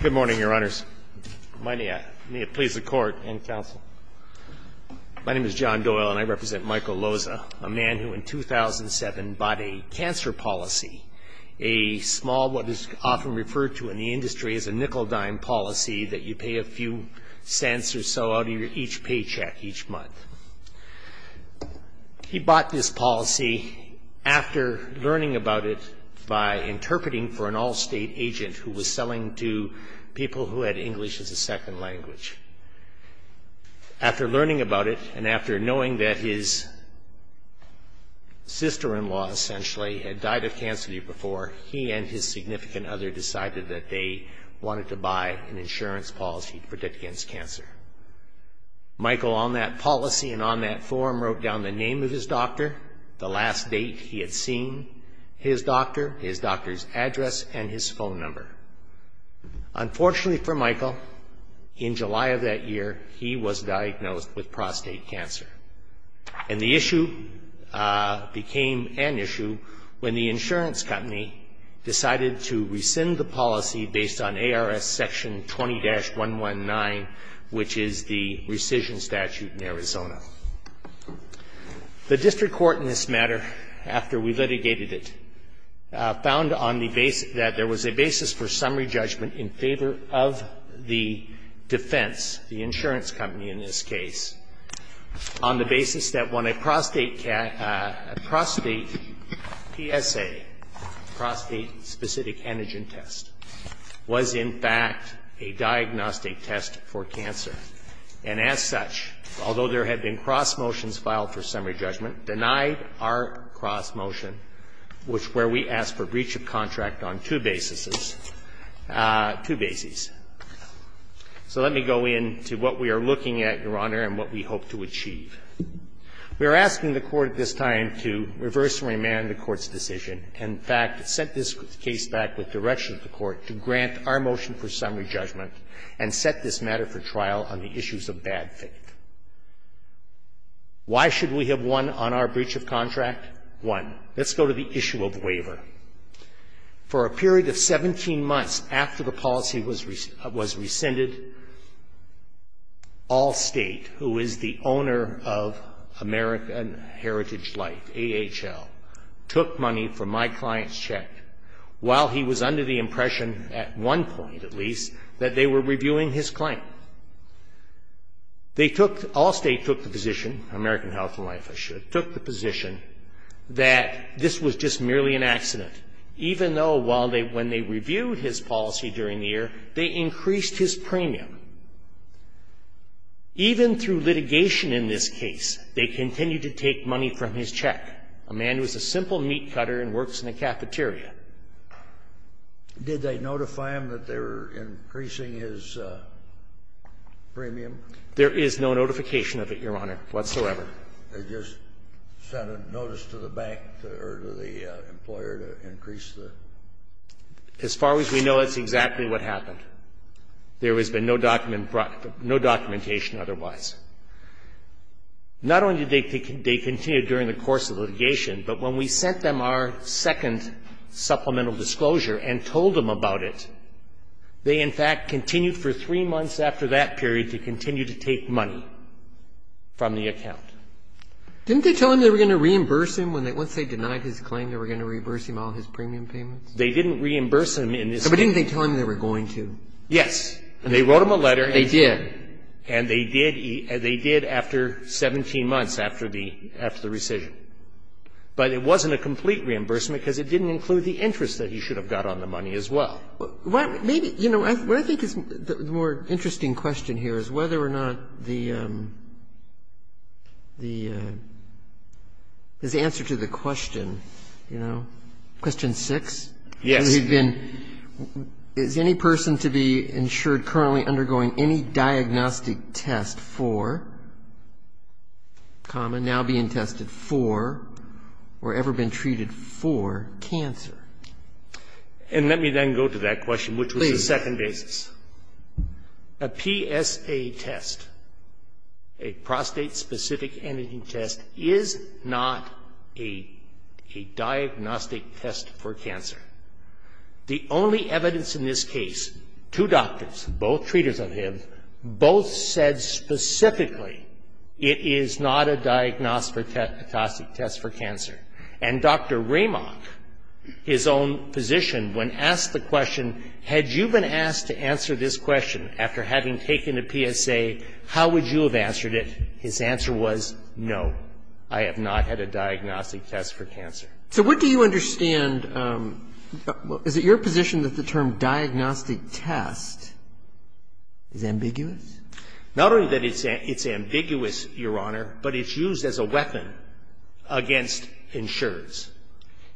Good morning, Your Honors. May it please the Court and Counsel. My name is John Doyle and I represent Michael Loza, a man who in 2007 bought a cancer policy, a small, what is often referred to in the industry as a nickel-dime policy, that you pay a few cents or so out of each paycheck each month. He bought this policy after learning about it by interpreting for an all-state agent who was selling to people who had English as a second language. After learning about it and after knowing that his sister-in-law essentially had died of cancer the year before, he and his significant other decided that they wanted to buy an insurance policy to protect against cancer. Michael, on that policy and on that form, wrote down the name of his doctor, the last date he had seen his doctor, his doctor's address, and his phone number. Unfortunately for Michael, in July of that year he was diagnosed with prostate cancer. And the issue became an issue when the insurance company decided to rescind the policy based on ARS Section 20-119, which is the rescission statute in Arizona. The district court in this matter, after we litigated it, found on the basis that there was a basis for summary judgment in favor of the defense, the insurance company in this case, on the basis that when a prostate PSA, prostate-specific antigen test, was in fact a diagnostic test for cancer. And as such, although there had been cross motions filed for summary judgment, denied our cross motion, which where we asked for breach of contract on two basis, two bases. So let me go into what we are looking at, Your Honor, and what we hope to achieve. We are asking the Court at this time to reverse and remand the Court's decision and in fact set this case back with direction of the Court to grant our motion for summary judgment and set this matter for trial on the issues of bad faith. Why should we have one on our breach of contract? One, let's go to the issue of waiver. For a period of 17 months after the policy was rescinded, Allstate, who is the owner of American Heritage Life, AHL, took money from my client's check while he was under the impression, at one point at least, that they were reviewing his claim. Allstate took the position, American Heritage Life I should, took the position that this was just merely an accident, even though when they reviewed his policy during the year, they increased his premium. Even through litigation in this case, they continued to take money from his check. A man who is a simple meat cutter and works in a cafeteria. Did they notify him that they were increasing his premium? There is no notification of it, Your Honor, whatsoever. They just sent a notice to the bank or to the employer to increase the? As far as we know, that's exactly what happened. There has been no documentation otherwise. Not only did they continue during the course of litigation, but when we sent them our second supplemental disclosure and told them about it, they in fact continued for three months after that period to continue to take money from the account. Didn't they tell him they were going to reimburse him once they denied his claim, they were going to reimburse him all his premium payments? They didn't reimburse him in this case. But didn't they tell him they were going to? Yes. They wrote him a letter. They did. And they did after 17 months after the rescission. But it wasn't a complete reimbursement because it didn't include the interest that he should have got on the money as well. Maybe, you know, what I think is the more interesting question here is whether or not the, his answer to the question, you know, question six. Yes. And let me then go to that question, which was the second basis. A PSA test, a prostate-specific antigen test, is not a diagnostic test for cancer. The only evidence in this case, two doctors, both treaters of him, both said specifically it is not a diagnostic test for cancer. And Dr. Ramach, his own physician, when asked the question, had you been asked to answer this question after having taken a PSA, how would you have answered it? His answer was no, I have not had a diagnostic test for cancer. So what do you understand? Is it your position that the term diagnostic test is ambiguous? Not only that it's ambiguous, Your Honor, but it's used as a weapon against insureds.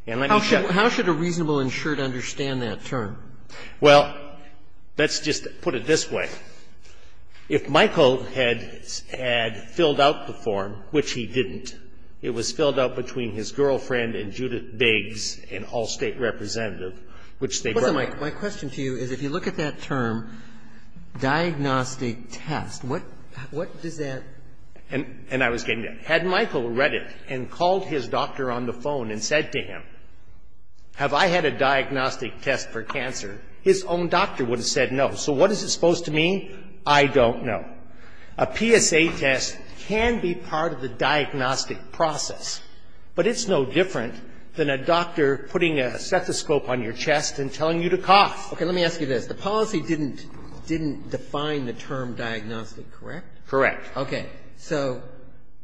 And let me show you. How should a reasonable insured understand that term? Well, let's just put it this way. If Michael had filled out the form, which he didn't, it was filled out between his girlfriend and Judith Biggs, an all-State representative, which they brought Michael. My question to you is if you look at that term, diagnostic test, what does that And I was getting to that. Had Michael read it and called his doctor on the phone and said to him, have I had a diagnostic test for cancer, his own doctor would have said no. So what is it supposed to mean? I don't know. A PSA test can be part of the diagnostic process. But it's no different than a doctor putting a stethoscope on your chest and telling you to cough. Okay. Let me ask you this. The policy didn't define the term diagnostic, correct? Correct. Okay. So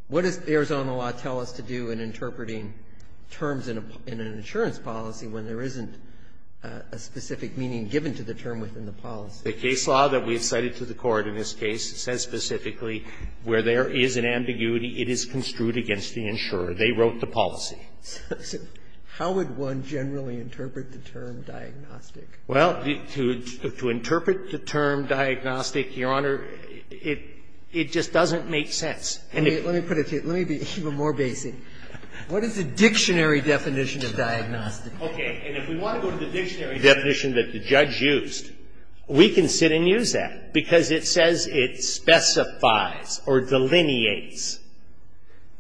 what does Arizona law tell us to do in interpreting terms in an insurance policy when there isn't a specific meaning given to the term within the policy? The case law that we have cited to the Court in this case says specifically where there is an ambiguity, it is construed against the insurer. They wrote the policy. So how would one generally interpret the term diagnostic? Well, to interpret the term diagnostic, Your Honor, it just doesn't make sense. Let me put it to you. Let me be even more basic. What is the dictionary definition of diagnostic? Okay. And if we want to go to the dictionary definition that the judge used, we can sit and use that because it says it specifies or delineates.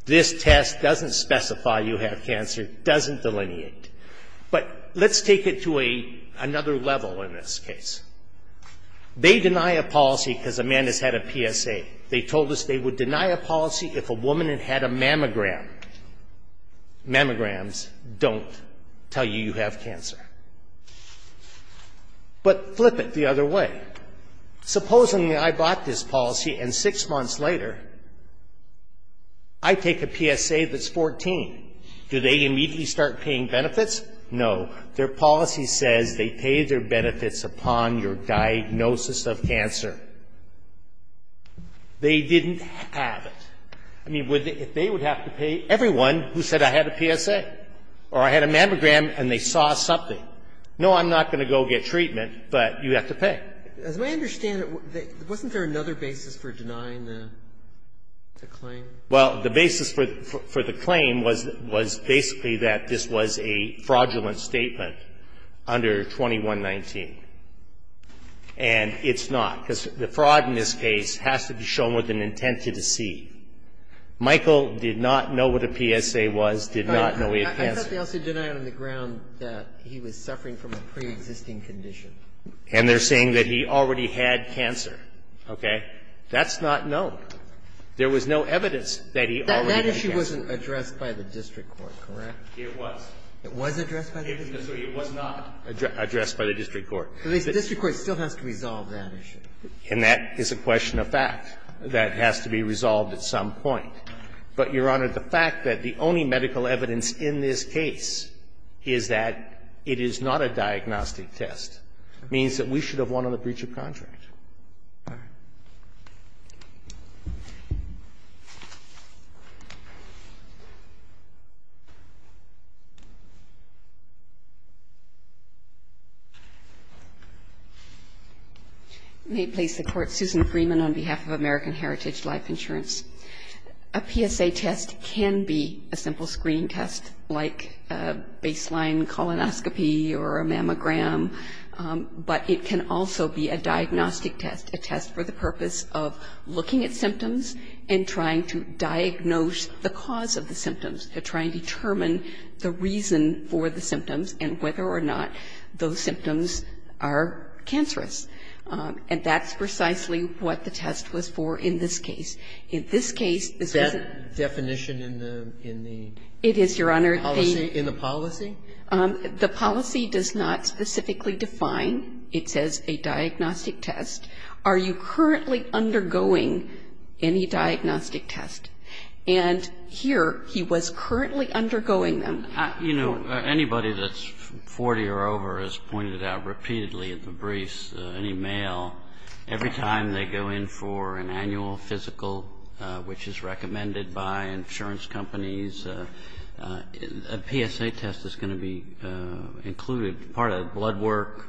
This test doesn't specify you have cancer. It doesn't delineate. But let's take it to another level in this case. They deny a policy because a man has had a PSA. They told us they would deny a policy if a woman had had a mammogram. Mammograms don't tell you you have cancer. But flip it the other way. Supposing I bought this policy and six months later I take a PSA that's 14. Do they immediately start paying benefits? No. Their policy says they pay their benefits upon your diagnosis of cancer. They didn't have it. I mean, if they would have to pay everyone who said I had a PSA or I had a mammogram and they saw something, no, I'm not going to go get treatment, but you have to pay. As I understand it, wasn't there another basis for denying the claim? Well, the basis for the claim was basically that this was a fraudulent statement under 2119. And it's not, because the fraud in this case has to be shown with an intent to deceive. Michael did not know what a PSA was, did not know he had cancer. I thought they also denied on the ground that he was suffering from a preexisting condition. And they're saying that he already had cancer. Okay. That's not known. There was no evidence that he already had cancer. That issue wasn't addressed by the district court, correct? It was. It was addressed by the district court? It was not addressed by the district court. The district court still has to resolve that issue. And that is a question of fact. That has to be resolved at some point. But, Your Honor, the fact that the only medical evidence in this case is that it is not a diagnostic test means that we should have won on the breach of contract. All right. May it please the Court. Susan Freeman on behalf of American Heritage Life Insurance. A PSA test can be a simple screening test like baseline colonoscopy or a mammogram. But it can also be a diagnostic test, a test for the purpose of looking at symptoms and trying to diagnose the cause of the symptoms, trying to determine the reason for the symptoms and whether or not those symptoms are cancerous. And that's precisely what the test was for in this case. In this case, this is a definition in the policy? It is, Your Honor. In the policy? The policy does not specifically define. It says a diagnostic test. Are you currently undergoing any diagnostic test? And here he was currently undergoing them. Anybody that's 40 or over has pointed out repeatedly at the briefs, any male, every time they go in for an annual physical, which is recommended by insurance companies, a PSA test is going to be included, part of the blood work.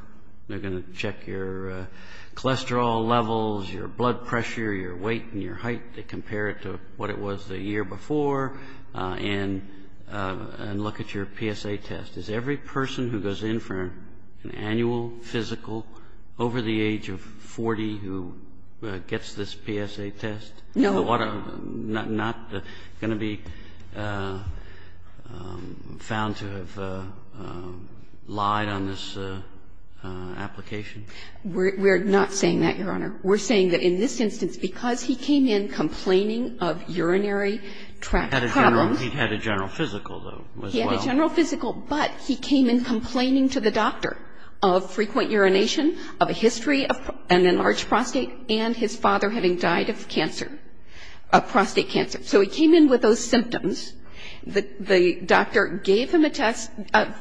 They're going to check your cholesterol levels, your blood pressure, your weight and your height. They compare it to what it was the year before and look at your PSA test. Is every person who goes in for an annual physical over the age of 40 who gets this PSA test? No. Not going to be found to have lied on this application? We're not saying that, Your Honor. We're saying that in this instance, because he came in complaining of urinary problems. He had a general physical, though, as well. He had a general physical, but he came in complaining to the doctor of frequent urination, of a history of an enlarged prostate, and his father having died of cancer, of prostate cancer. So he came in with those symptoms. The doctor gave him a test,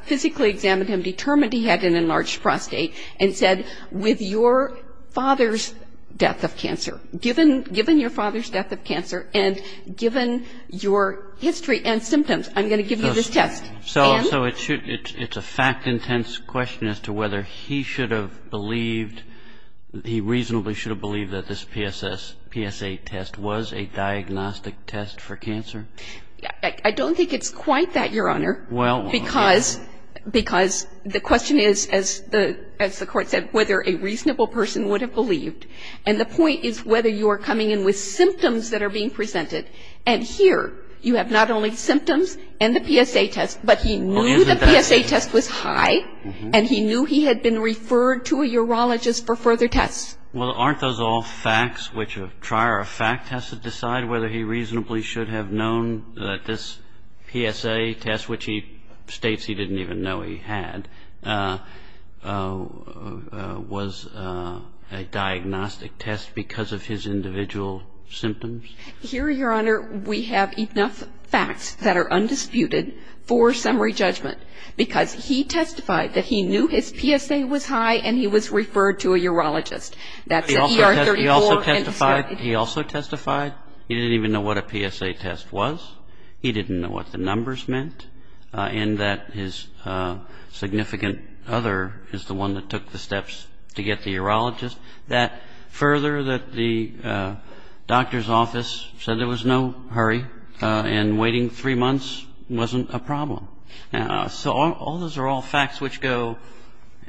physically examined him, determined he had an enlarged prostate, and said, with your father's death of cancer, given your father's death of cancer and given your history and symptoms, I'm going to give you this test. So it's a fact-intense question as to whether he should have believed, he reasonably should have believed that this PSA test was a diagnostic test for cancer? I don't think it's quite that, Your Honor. Well, okay. Because the question is, as the Court said, whether a reasonable person would have believed. And the point is whether you are coming in with symptoms that are being presented. And here, you have not only symptoms and the PSA test, but he knew the PSA test was high, and he knew he had been referred to a urologist for further tests. Well, aren't those all facts which a trier of fact has to decide whether he reasonably should have known that this PSA test, which he states he didn't even know he had, was a diagnostic test because of his individual symptoms? Here, Your Honor, we have enough facts that are undisputed for summary judgment. Because he testified that he knew his PSA was high, and he was referred to a urologist. That's ER 34. He also testified? He didn't even know what a PSA test was. He didn't know what the numbers meant. And that his significant other is the one that took the steps to get the urologist. That further, that the doctor's office said there was no hurry, and waiting three months wasn't a problem. So all those are all facts which go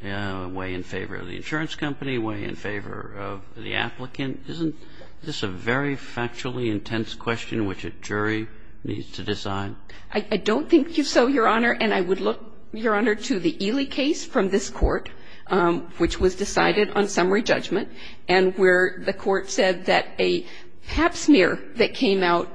way in favor of the insurance company, way in favor of the applicant. Isn't this a very factually intense question which a jury needs to decide? I don't think so, Your Honor. And I would look, Your Honor, to the Ely case from this court, which was decided on summary judgment, and where the court said that a pap smear that came out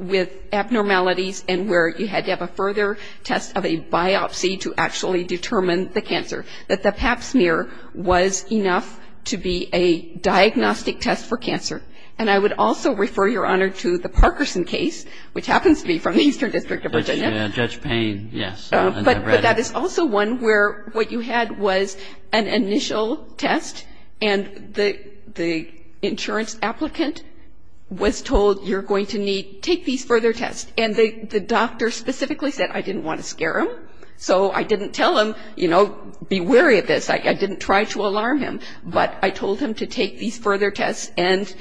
with abnormalities and where you had to have a further test of a biopsy to actually determine the cancer, that the pap smear was enough to be a diagnostic test for cancer. And I would also refer, Your Honor, to the Parkerson case, which happens to be from the Eastern District of Virginia. Judge Payne, yes. But that is also one where what you had was an initial test, and the insurance applicant was told you're going to need to take these further tests. And the doctor specifically said, I didn't want to scare him, so I didn't tell him, you know, be wary of this. I didn't try to alarm him. But I told him to take these further tests, and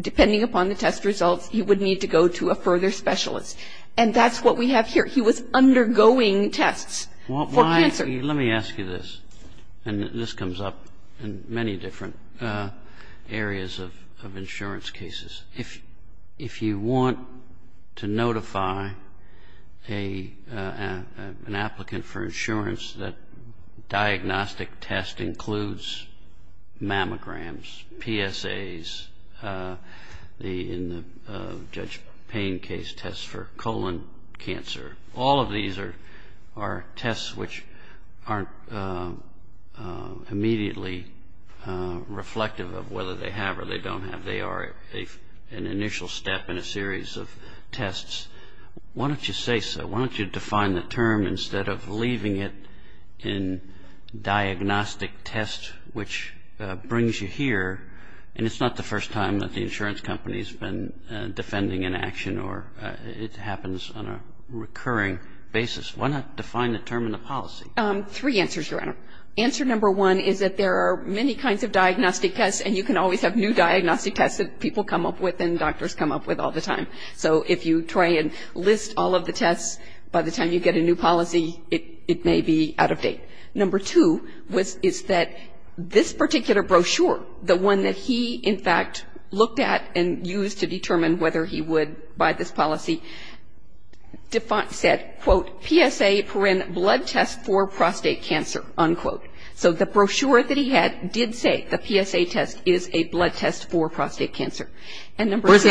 depending upon the test results, he would need to go to a further specialist. And that's what we have here. He was undergoing tests for cancer. Let me ask you this, and this comes up in many different areas of insurance cases. If you want to notify an applicant for insurance that a diagnostic test includes mammograms, PSAs, in the Judge Payne case, tests for colon cancer, all of these are tests which aren't immediately reflective of whether they have or they don't have. They are an initial step in a series of tests. Why don't you say so? Why don't you define the term instead of leaving it in diagnostic test, which brings you here, and it's not the first time that the insurance company has been defending an action or it happens on a recurring basis. Why not define the term in the policy? Three answers, Your Honor. Answer number one is that there are many kinds of diagnostic tests, and you can always have new diagnostic tests that people come up with and doctors come up with all the time. So if you try and list all of the tests, by the time you get a new policy, it may be out of date. Number two is that this particular brochure, the one that he, in fact, looked at and used to determine whether he would buy this policy, said, quote, PSA, PRIN, blood test for prostate cancer, unquote. So the brochure that he had did say the PSA test is a blood test for prostate cancer. And number three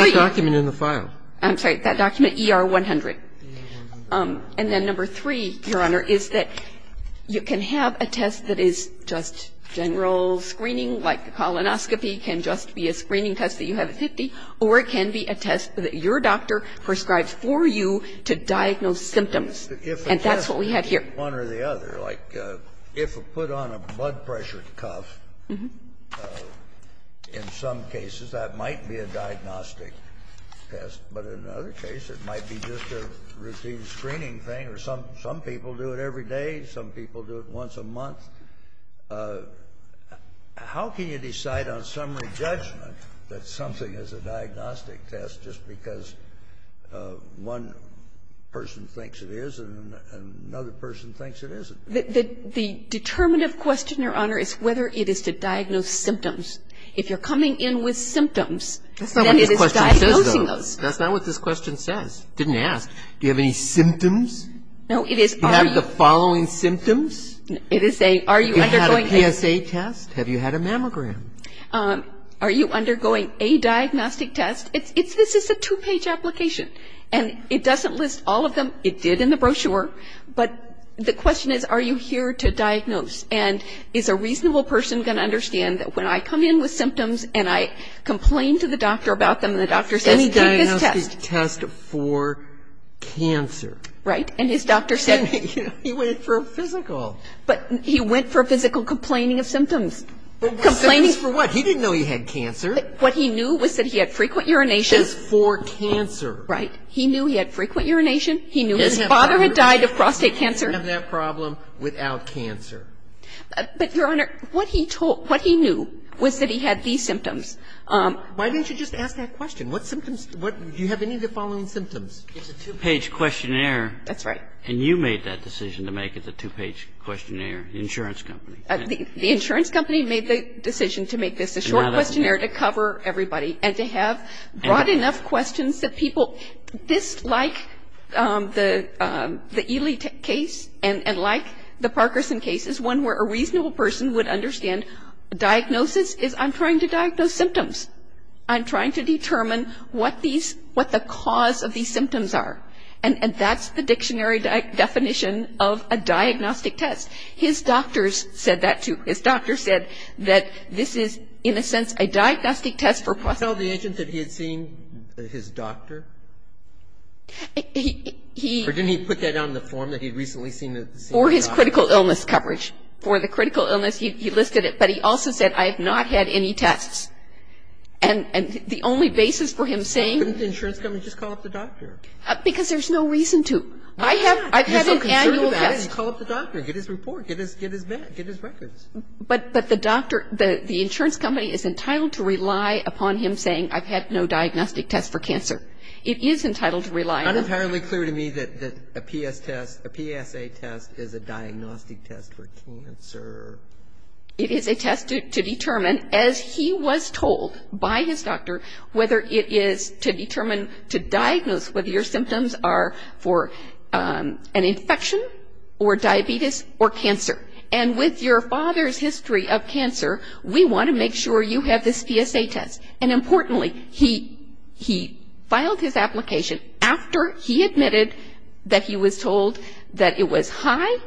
you can have a test that is just general screening, like the colonoscopy can just be a screening test that you have at 50, or it can be a test that your doctor prescribes for you to diagnose symptoms, and that's what we have here. If you take one or the other, like if you put on a blood pressure cuff, in some cases that might be a diagnostic test, but in other cases it might be just a routine screening thing, or some people do it every day, some people do it once a month. How can you decide on summary judgment that something is a diagnostic test just because one person thinks it is and another person thinks it isn't? The determinative question, Your Honor, is whether it is to diagnose symptoms. If you're coming in with symptoms, then it is diagnosing those. That's not what this question says, though. That's not what this question says. It didn't ask. Do you have any symptoms? No, it is are you. Do you have the following symptoms? It is a are you undergoing things. Have you had a PSA test? Have you had a mammogram? Are you undergoing a diagnostic test? This is a two-page application, and it doesn't list all of them. It did in the brochure, but the question is are you here to diagnose, and is a reasonable person going to understand that when I come in with symptoms and I complain to the doctor about them and the doctor says, take this test. Any diagnostic test for cancer. Right, and his doctor said he went for a physical. But he went for a physical complaining of symptoms. Complaining for what? He didn't know he had cancer. What he knew was that he had frequent urination. Just for cancer. Right. He knew he had frequent urination. He knew his father had died of prostate cancer. He didn't have that problem without cancer. But, Your Honor, what he knew was that he had these symptoms. Why didn't you just ask that question? What symptoms do you have? Do you have any of the following symptoms? It's a two-page questionnaire. That's right. And you made that decision to make it the two-page questionnaire, the insurance company. The insurance company made the decision to make this a short questionnaire to cover everybody and to have broad enough questions that people, this like the Ely case and like the Parkerson case is one where a reasonable person would understand diagnosis is I'm trying to diagnose symptoms. I'm trying to determine what these, what the cause of these symptoms are. And that's the dictionary definition of a diagnostic test. His doctors said that, too. Didn't he tell the agent that he had seen his doctor? Or didn't he put that on the form that he had recently seen his doctor? For his critical illness coverage. For the critical illness, he listed it. But he also said, I have not had any tests. And the only basis for him saying. Couldn't the insurance company just call up the doctor? Because there's no reason to. I've had an annual test. Call up the doctor. Get his report. Get his records. But the doctor, the insurance company is entitled to rely upon him saying, I've had no diagnostic test for cancer. It is entitled to rely. It's not entirely clear to me that a PS test, a PSA test is a diagnostic test for cancer. It is a test to determine, as he was told by his doctor, whether it is to determine to diagnose whether your symptoms are for an infection or diabetes or cancer. And with your father's history of cancer, we want to make sure you have this PSA test. And importantly, he filed his application after he admitted that he was told that it was high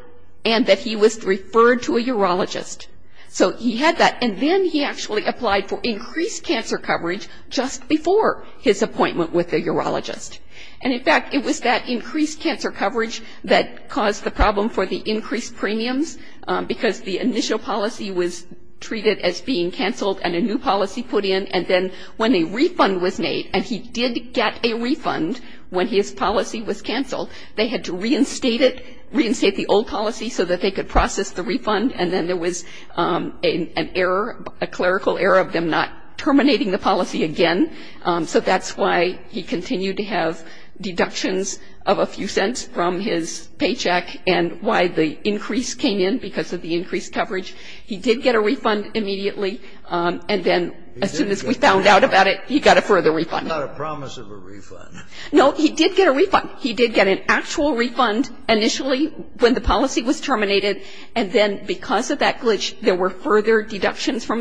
and that he was referred to a urologist. So he had that. And then he actually applied for increased cancer coverage just before his appointment with the urologist. And, in fact, it was that increased cancer coverage that caused the problem for the increased premiums because the initial policy was treated as being canceled and a new policy put in. And then when a refund was made, and he did get a refund when his policy was canceled, they had to reinstate it, reinstate the old policy so that they could process the refund. And then there was an error, a clerical error of them not terminating the policy again. So that's why he continued to have deductions of a few cents from his paycheck and why the increase came in because of the increased coverage. He did get a refund immediately. And then as soon as we found out about it, he got a further refund. It's not a promise of a refund. No, he did get a refund. He did get an actual refund initially when the policy was terminated. And then because of that glitch, there were further deductions from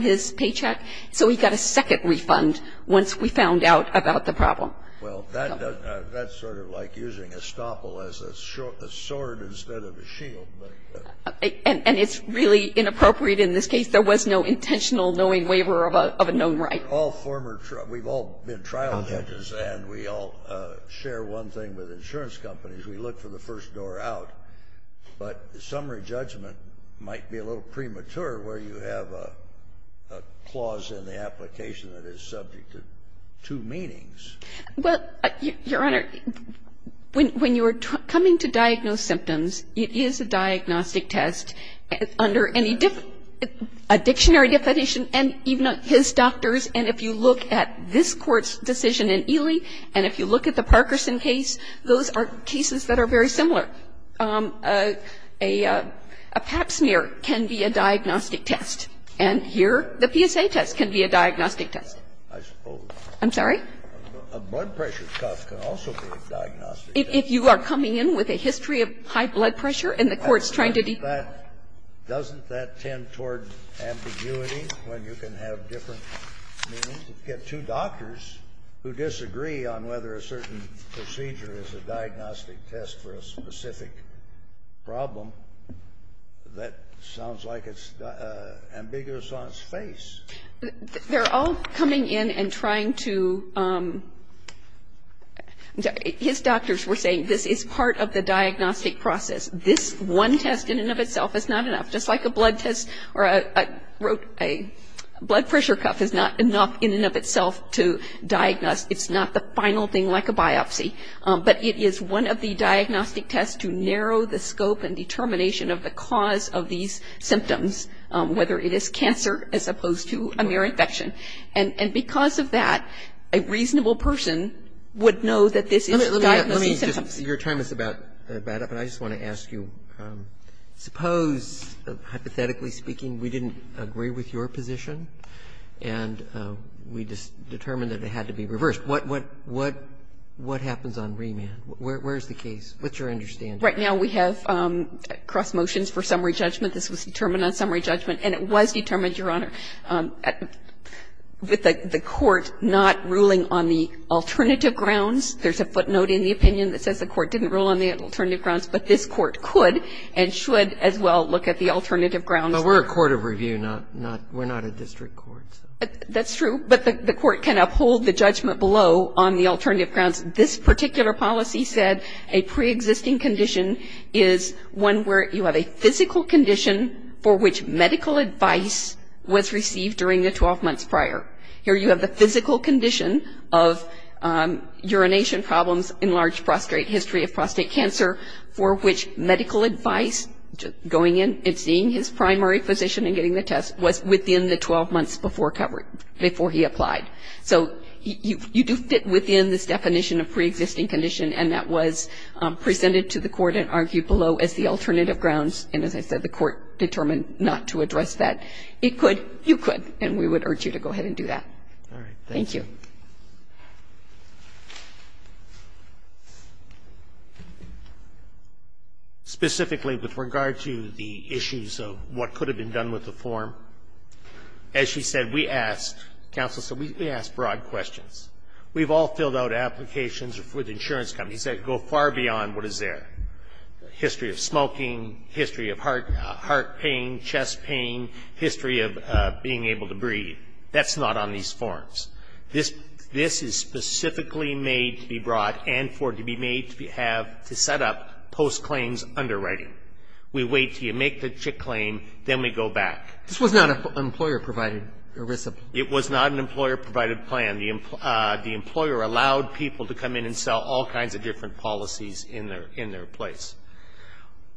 his paycheck. So he got a second refund once we found out about the problem. Well, that's sort of like using a stopple as a sword instead of a shield. And it's really inappropriate in this case. There was no intentional knowing waiver of a known right. We've all been trial judges, and we all share one thing with insurance companies. We look for the first door out. But summary judgment might be a little premature where you have a clause in the application that is subject to two meanings. Well, Your Honor, when you are coming to diagnose symptoms, it is a diagnostic test under any dictionary definition, and even his doctors, and if you look at this Court's decision in Ely, and if you look at the Parkerson case, those are cases that are very similar. A pap smear can be a diagnostic test. And here, the PSA test can be a diagnostic test. I suppose. I'm sorry? A blood pressure cuff can also be a diagnostic test. If you are coming in with a history of high blood pressure and the Court's trying to determine. Doesn't that tend toward ambiguity when you can have different meanings? You get two doctors who disagree on whether a certain procedure is a diagnostic test for a specific problem. That sounds like it's ambiguous on its face. They're all coming in and trying to – his doctors were saying this is part of the diagnostic process. This one test in and of itself is not enough. Just like a blood test or a blood pressure cuff is not enough in and of itself to diagnose. It's not the final thing like a biopsy. But it is one of the diagnostic tests to narrow the scope and determination of the cause of these symptoms, whether it is cancer as opposed to a mere infection. And because of that, a reasonable person would know that this is a diagnostic test. Let me just – your time is about up, and I just want to ask you, suppose, hypothetically speaking, we didn't agree with your position and we determined that it had to be reversed. What happens on remand? Where is the case? What's your understanding? Right now we have cross motions for summary judgment. This was determined on summary judgment, and it was determined, Your Honor, with the Court not ruling on the alternative grounds. There's a footnote in the opinion that says the Court didn't rule on the alternative grounds, but this Court could and should as well look at the alternative grounds. But we're a court of review. We're not a district court. That's true, but the Court can uphold the judgment below on the alternative grounds. This particular policy said a preexisting condition is one where you have a physical condition for which medical advice was received during the 12 months prior. Here you have the physical condition of urination problems in large prostate history of prostate cancer for which medical advice, going in and seeing his primary physician and getting the test, was within the 12 months before he applied. So you do fit within this definition of preexisting condition, and that was presented to the Court and argued below as the alternative grounds, and as I said, the Court determined not to address that. It could, you could, and we would urge you to go ahead and do that. Thank you. Roberts. Specifically with regard to the issues of what could have been done with the form, as she said, we asked, Counsel, we asked broad questions. We've all filled out applications with insurance companies that go far beyond what is there. History of smoking, history of heart pain, chest pain, history of being able to breathe. That's not on these forms. This is specifically made to be brought and for it to be made to have, to set up post claims underwriting. We wait until you make the CHIC claim, then we go back. This was not an employer-provided ERISA plan. It was not an employer-provided plan. The employer allowed people to come in and sell all kinds of different policies in their place.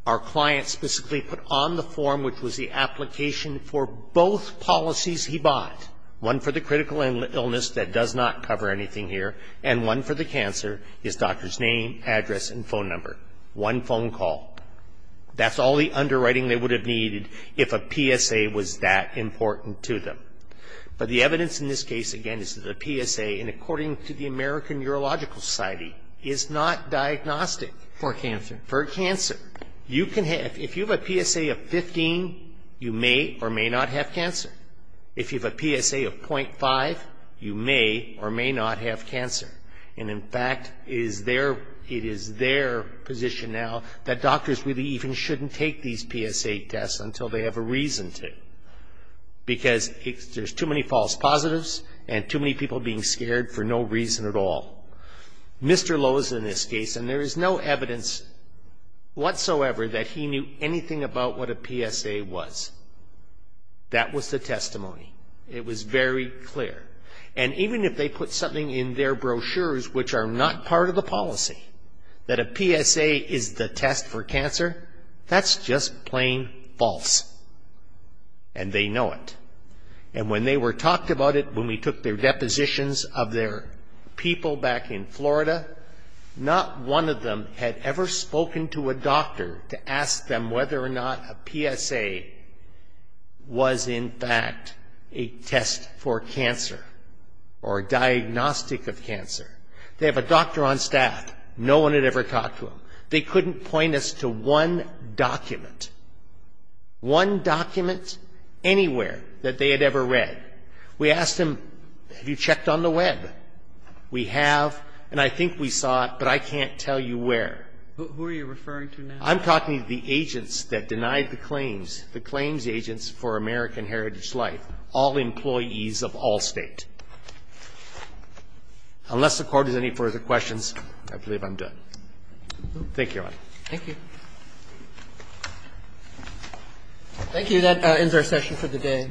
Our client specifically put on the form, which was the application for both policies he bought, one for the critical illness that does not cover anything here, and one for the cancer, his doctor's name, address, and phone number. One phone call. That's all the underwriting they would have needed if a PSA was that important to them. But the evidence in this case, again, is that a PSA, and according to the American Urological Society, is not diagnostic. For cancer. For cancer. If you have a PSA of 15, you may or may not have cancer. If you have a PSA of .5, you may or may not have cancer. And in fact, it is their position now that doctors really even shouldn't take these PSA tests until they have a reason to. Because there's too many false positives and too many people being scared for no reason at all. Mr. Lowe's in this case, and there is no evidence whatsoever that he knew anything about what a PSA was. That was the testimony. It was very clear. And even if they put something in their brochures which are not part of the policy, that a PSA is the test for cancer, that's just plain false. And they know it. And when they were talked about it, when we took their depositions of their people back in Florida, not one of them had ever spoken to a doctor to ask them whether or not a PSA was, in fact, a test for cancer or a diagnostic of cancer. They have a doctor on staff. No one had ever talked to him. They couldn't point us to one document. One document anywhere that they had ever read. We asked them, have you checked on the web? We have, and I think we saw it, but I can't tell you where. Who are you referring to now? I'm talking to the agents that denied the claims, the claims agents for American Heritage Life, all employees of Allstate. Unless the Court has any further questions, I believe I'm done. Thank you, Your Honor. Thank you. Thank you. That ends our session for the day.